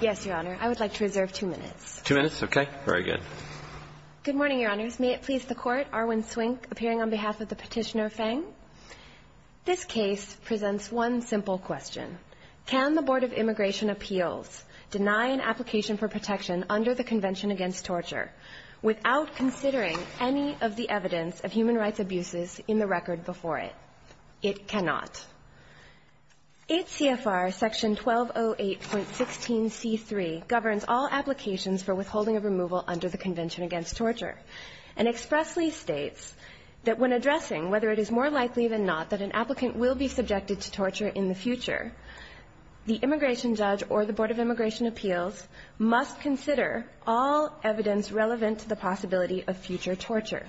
Yes, Your Honor. I would like to reserve two minutes. Two minutes? Okay. Very good. Good morning, Your Honors. May it please the Court, Arwin Swink appearing on behalf of the Petitioner Feng. This case presents one simple question. Can the Board of Immigration Appeals deny an application for protection under the Convention Against Torture without considering any of the evidence of human rights abuses in the record before it? It cannot. 8 CFR Section 1208.16c3 governs all applications for withholding of removal under the Convention Against Torture and expressly states that when addressing whether it is more likely than not that an applicant will be subjected to torture in the future, the immigration judge or the Board of Immigration Appeals must consider all evidence relevant to the possibility of future torture,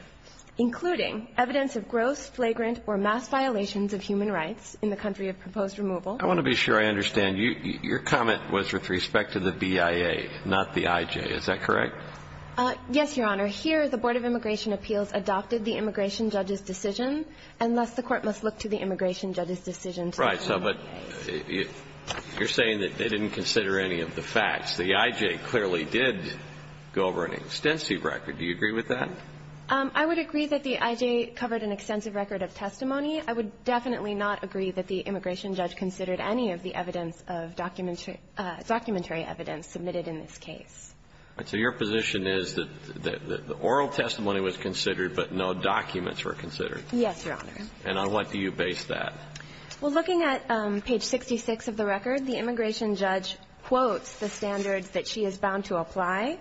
including evidence of gross, flagrant, or mass violations of human rights in the country of proposed removal. I want to be sure I understand. Your comment was with respect to the BIA, not the IJ. Is that correct? Yes, Your Honor. Here, the Board of Immigration Appeals adopted the immigration judge's decision, and thus the Court must look to the immigration judge's decision. Right. So but you're saying that they didn't consider any of the facts. The IJ clearly did go over an extensive record. Do you agree with that? I would agree that the IJ covered an extensive record of testimony. I would definitely not agree that the immigration judge considered any of the evidence of documentary evidence submitted in this case. So your position is that the oral testimony was considered, but no documents were considered. Yes, Your Honor. And on what do you base that? Well, looking at page 66 of the record, the immigration judge quotes the standards that she is bound to apply,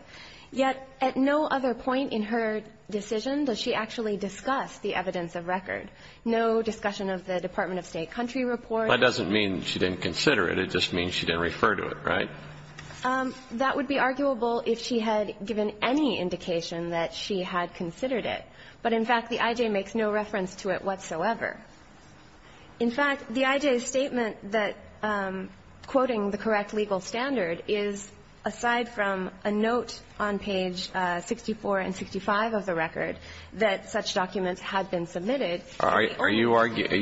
yet at no other point in her decision does she actually discuss the evidence of record. No discussion of the Department of State country report. That doesn't mean she didn't consider it. It just means she didn't refer to it, right? That would be arguable if she had given any indication that she had considered it. But, in fact, the IJ makes no reference to it whatsoever. In fact, the IJ's statement that quoting the correct legal standard is aside from a note on page 64 and 65 of the record that such documents had been submitted to the court. Are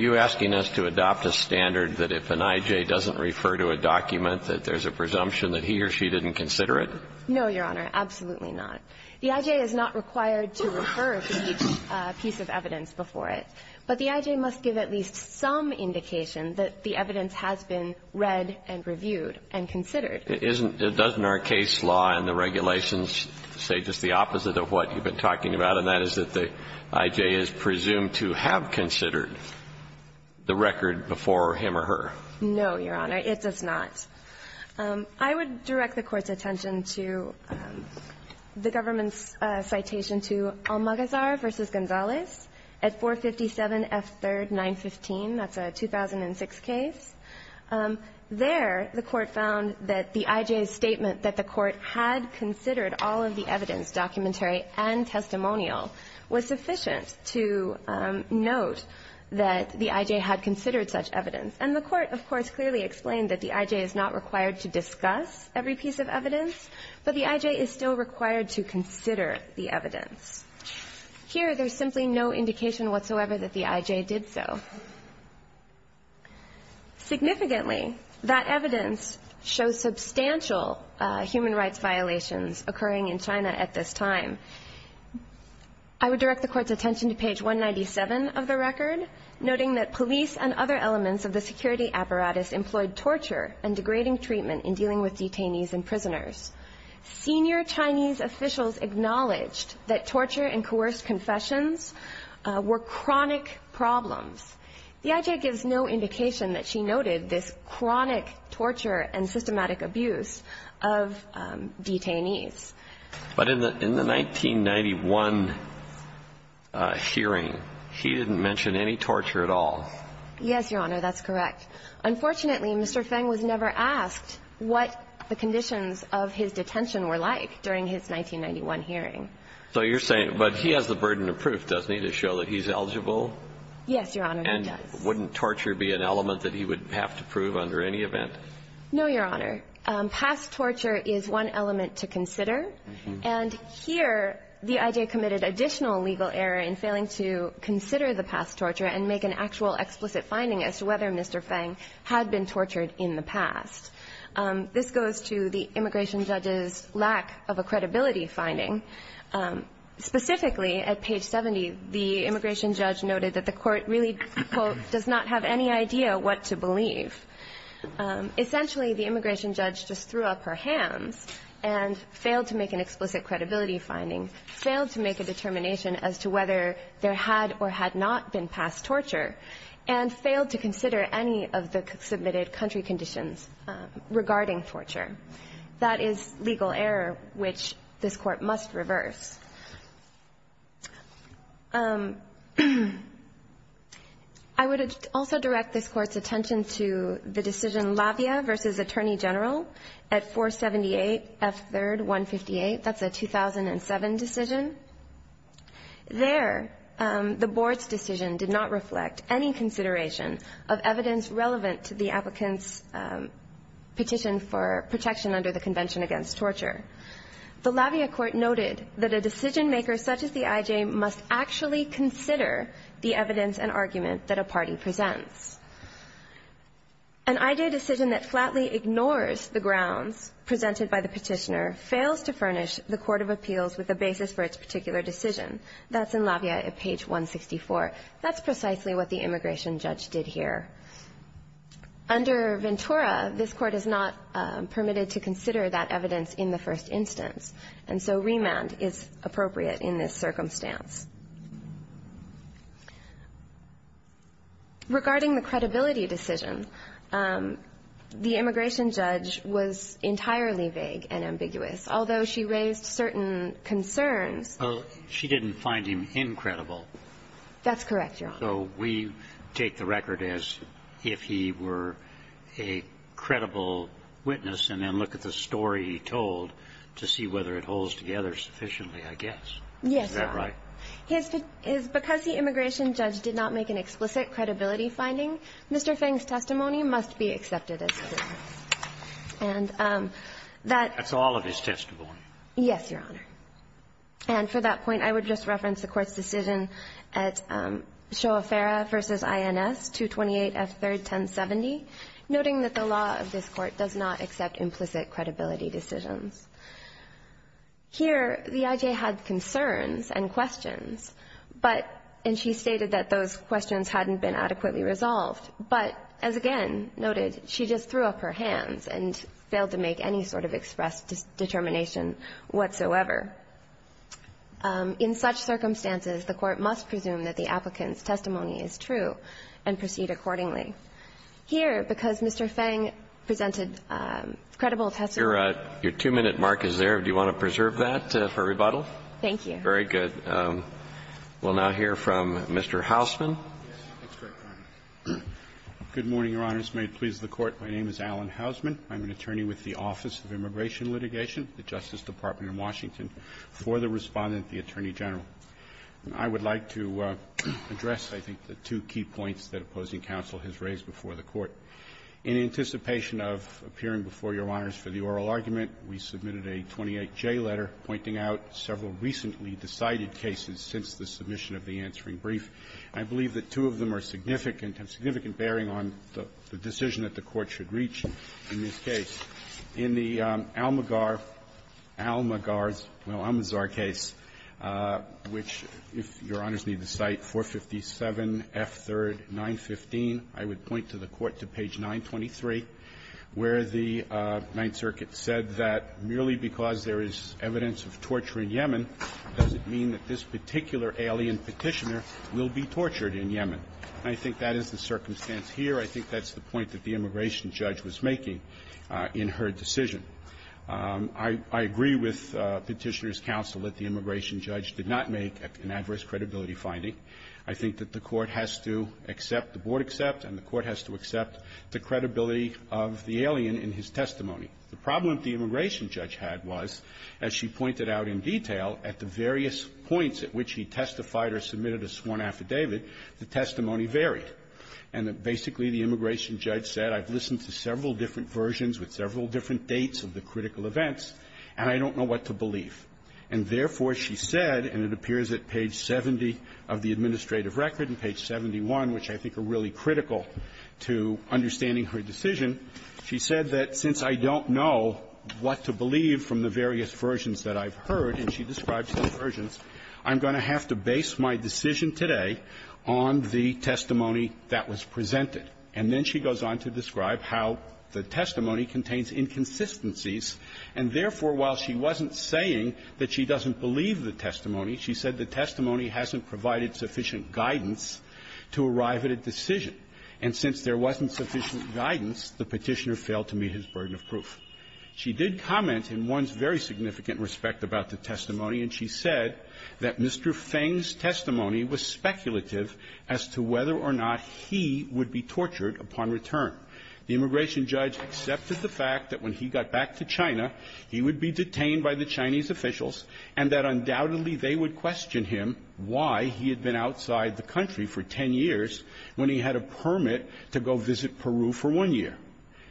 you asking us to adopt a standard that if an IJ doesn't refer to a document that there's a presumption that he or she didn't consider it? No, Your Honor. Absolutely not. The IJ is not required to refer to each piece of evidence before it. But the IJ must give at least some indication that the evidence has been read and reviewed and considered. Isn't the Duzner case law and the regulations say just the opposite of what you've been talking about, and that is that the IJ is presumed to have considered the record before him or her? No, Your Honor. It does not. I would direct the Court's attention to the government's citation to Almagazar v. Gonzalez at 457 F3rd 915. That's a 2006 case. There the Court found that the IJ's statement that the Court had considered all of the evidence, documentary and testimonial, was sufficient to note that the IJ had considered such evidence. And the Court, of course, clearly explained that the IJ is not required to discuss every piece of evidence, but the IJ is still required to consider the evidence. Here, there's simply no indication whatsoever that the IJ did so. Significantly, that evidence shows substantial human rights violations occurring in China at this time. I would direct the Court's attention to page 197 of the record, noting that police and other elements of the security apparatus employed torture and degrading treatment in dealing with detainees and prisoners. Senior Chinese officials acknowledged that torture and coerced confessions were chronic problems. The IJ gives no indication that she noted this chronic torture and systematic abuse of detainees. But in the 1991 hearing, she didn't mention any torture at all. Yes, Your Honor. That's correct. Unfortunately, Mr. Feng was never asked what the conditions of his detention were like during his 1991 hearing. So you're saying, but he has the burden of proof, doesn't he, to show that he's eligible? Yes, Your Honor, he does. And wouldn't torture be an element that he would have to prove under any event? No, Your Honor. Past torture is one element to consider. And here, the IJ committed additional legal error in failing to consider the past This goes to the immigration judge's lack of a credibility finding. Specifically, at page 70, the immigration judge noted that the court really, quote, does not have any idea what to believe. Essentially, the immigration judge just threw up her hands and failed to make an explicit credibility finding, failed to make a determination as to whether there had or had not been past torture, and failed to consider any of the submitted country conditions regarding torture. That is legal error which this Court must reverse. I would also direct this Court's attention to the decision Lavia v. Attorney General at 478 F. 3rd 158. That's a 2007 decision. There, the Board's decision did not reflect any consideration of evidence relevant to the applicant's petition for protection under the Convention Against Torture. The Lavia court noted that a decisionmaker such as the IJ must actually consider the evidence and argument that a party presents. An IJ decision that flatly ignores the grounds presented by the petitioner fails to That's in Lavia at page 164. That's precisely what the immigration judge did here. Under Ventura, this Court is not permitted to consider that evidence in the first instance, and so remand is appropriate in this circumstance. Regarding the credibility decision, the immigration judge was entirely vague and She didn't find him incredible. That's correct, Your Honor. So we take the record as if he were a credible witness and then look at the story he told to see whether it holds together sufficiently, I guess. Yes, Your Honor. Is that right? Because the immigration judge did not make an explicit credibility finding, Mr. Feng's testimony must be accepted as evidence. And that's That's all of his testimony. Yes, Your Honor. And for that point, I would just reference the Court's decision at Shoa-Farah v. INS, 228F3-1070, noting that the law of this Court does not accept implicit credibility decisions. Here, the IJ had concerns and questions, but, and she stated that those questions hadn't been adequately resolved, but, as again noted, she just threw up her hands and failed to make any sort of express determination whatsoever. In such circumstances, the Court must presume that the applicant's testimony is true and proceed accordingly. Here, because Mr. Feng presented credible testimony Your two-minute mark is there. Do you want to preserve that for rebuttal? Thank you. Very good. We'll now hear from Mr. Hausman. Good morning, Your Honors. May it please the Court. My name is Alan Hausman. I'm an attorney with the Office of Immigration Litigation, the Justice Department in Washington, for the Respondent, the Attorney General. I would like to address, I think, the two key points that opposing counsel has raised before the Court. In anticipation of appearing before Your Honors for the oral argument, we submitted a 28J letter pointing out several recently decided cases since the submission of the answering brief. I believe that two of them are significant and significant bearing on the decision that the Court should reach in this case. In the Almagar, Almagar's, well, Almazar case, which, if Your Honors need the site, 457F3rd 915, I would point to the Court to page 923, where the Ninth Circuit said that merely because there is evidence of torture in Yemen doesn't mean that this will be tortured in Yemen. I think that is the circumstance here. I think that's the point that the immigration judge was making in her decision. I agree with Petitioner's counsel that the immigration judge did not make an adverse credibility finding. I think that the Court has to accept, the Board accept, and the Court has to accept the credibility of the alien in his testimony. The problem the immigration judge had was, as she pointed out in detail, at the various points at which she testified or submitted a sworn affidavit, the testimony varied, and that basically the immigration judge said, I've listened to several different versions with several different dates of the critical events, and I don't know what to believe. And therefore, she said, and it appears at page 70 of the administrative record, page 71, which I think are really critical to understanding her decision, she said that since I don't know what to believe from the various versions that I've heard, and she describes the versions, I'm going to have to base my decision today on the testimony that was presented. And then she goes on to describe how the testimony contains inconsistencies, and therefore, while she wasn't saying that she doesn't believe the testimony, she said the testimony hasn't provided sufficient guidance to arrive at a decision. And since there wasn't sufficient guidance, the Petitioner failed to meet his burden of proof. She did comment in one's very significant respect about the testimony, and she said that Mr. Feng's testimony was speculative as to whether or not he would be tortured upon return. The immigration judge accepted the fact that when he got back to China, he would be detained by the Chinese officials, and that undoubtedly they would question him why he had been outside the country for 10 years when he had a permit to go visit Peru for one year,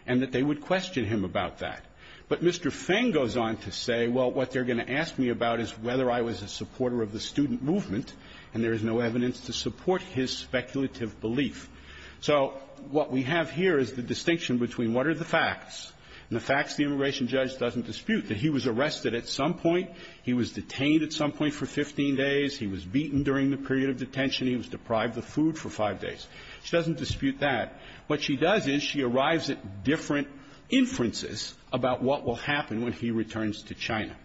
and that they would question him about that. But Mr. Feng goes on to say, well, what they're going to ask me about is whether I was a supporter of the student movement, and there is no evidence to support his speculative belief. So what we have here is the distinction between what are the facts, and the facts the immigration judge doesn't dispute, that he was arrested at some point, he was beaten during the period of detention, he was deprived of food for five days. She doesn't dispute that. What she does is she arrives at different inferences about what will happen when he returns to China.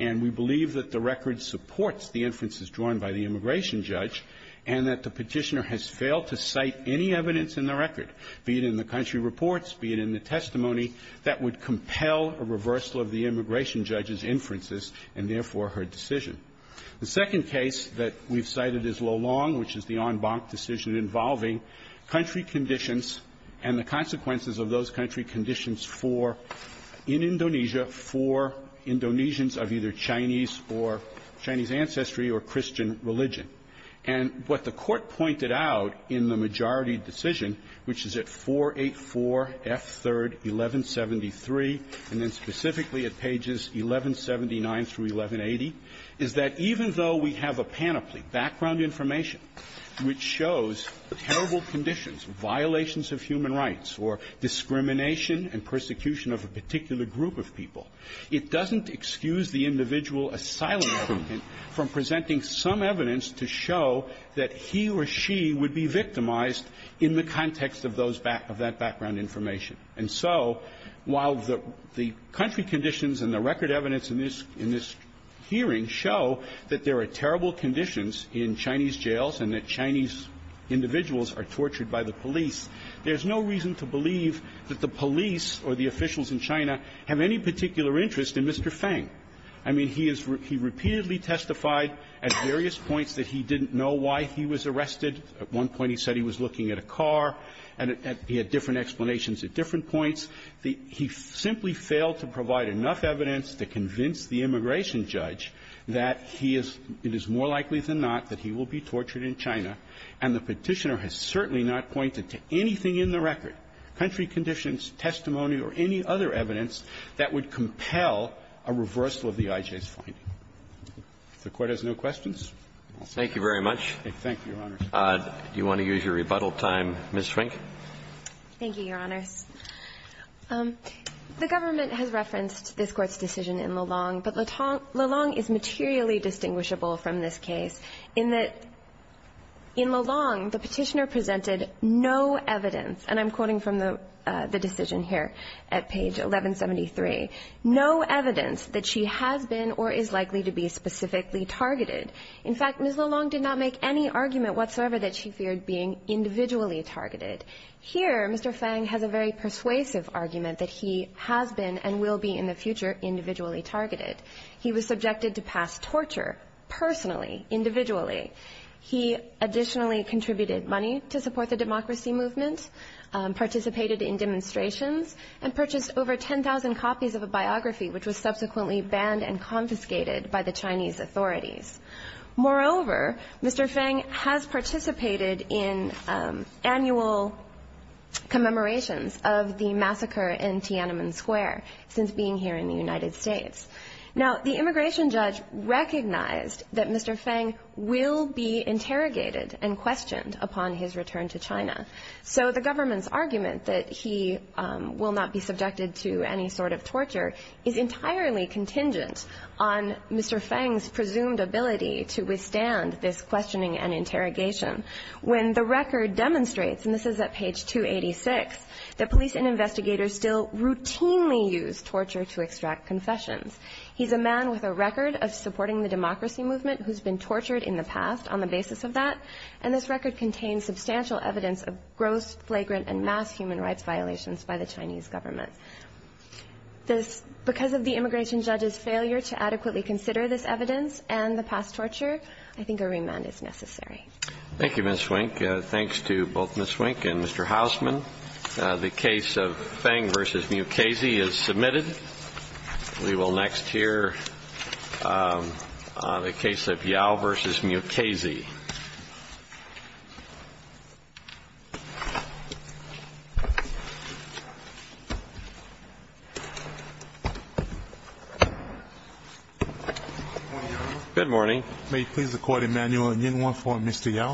And we believe that the record supports the inferences drawn by the immigration judge, and that the Petitioner has failed to cite any evidence in the record, be it in the country reports, be it in the testimony, that would compel a reversal of the immigration judge's inferences, and therefore her decision. The second case that we've cited is Lo Long, which is the en banc decision involving country conditions and the consequences of those country conditions for, in Indonesia, for Indonesians of either Chinese or Chinese ancestry or Christian religion. And what the Court pointed out in the majority decision, which is at 484 F. 3rd, 1173, and then specifically at pages 1179 through 1180, is that the majority decision is that even though we have a panoply, background information, which shows terrible conditions, violations of human rights, or discrimination and persecution of a particular group of people, it doesn't excuse the individual asylum seeker from presenting some evidence to show that he or she would be victimized in the context of that background information. And so while the country conditions and the record evidence in this hearing show that there are terrible conditions in Chinese jails and that Chinese individuals are tortured by the police, there's no reason to believe that the police or the officials in China have any particular interest in Mr. Feng. I mean, he repeatedly testified at various points that he didn't know why he was arrested. At one point, he said he was looking at a car, and he had different explanations at different points. He simply failed to provide enough evidence to convince the immigration judge that he is — it is more likely than not that he will be tortured in China, and the Petitioner has certainly not pointed to anything in the record, country conditions, testimony, or any other evidence that would compel a reversal of the IJ's finding. If the Court has no questions, I'll stop. Thank you very much. Thank you, Your Honors. Do you want to use your rebuttal time, Ms. Schwenk? Thank you, Your Honors. The government has referenced this Court's decision in LeLong, but LeLong is materially distinguishable from this case in that in LeLong, the Petitioner presented no evidence — and I'm quoting from the decision here at page 1173 — no evidence that she has been or is likely to be specifically targeted. In fact, Ms. LeLong did not make any argument whatsoever that she feared being individually targeted. Here, Mr. Fang has a very persuasive argument that he has been and will be in the future individually targeted. He was subjected to past torture personally, individually. He additionally contributed money to support the democracy movement, participated in demonstrations, and purchased over 10,000 copies of a biography which was subsequently banned and confiscated by the Chinese authorities. Moreover, Mr. Fang has participated in annual commemorations of the massacre in Tiananmen Square since being here in the United States. Now, the immigration judge recognized that Mr. Fang will be interrogated and questioned upon his return to China. So the government's argument that he will not be subjected to any sort of torture is to withstand this questioning and interrogation when the record demonstrates — and this is at page 286 — that police and investigators still routinely use torture to extract confessions. He's a man with a record of supporting the democracy movement who's been tortured in the past on the basis of that, and this record contains substantial evidence of gross, flagrant, and mass human rights violations by the Chinese government. Because of the immigration judge's failure to adequately consider this evidence and the past torture, I think a remand is necessary. Thank you, Ms. Wink. Thanks to both Ms. Wink and Mr. Hausman. The case of Fang v. Mukasey is submitted. We will next hear the case of Yao v. Mukasey. Good morning, Your Honor. Good morning. May it please the Court, Immanuel, in Uniform for Mr. Yao.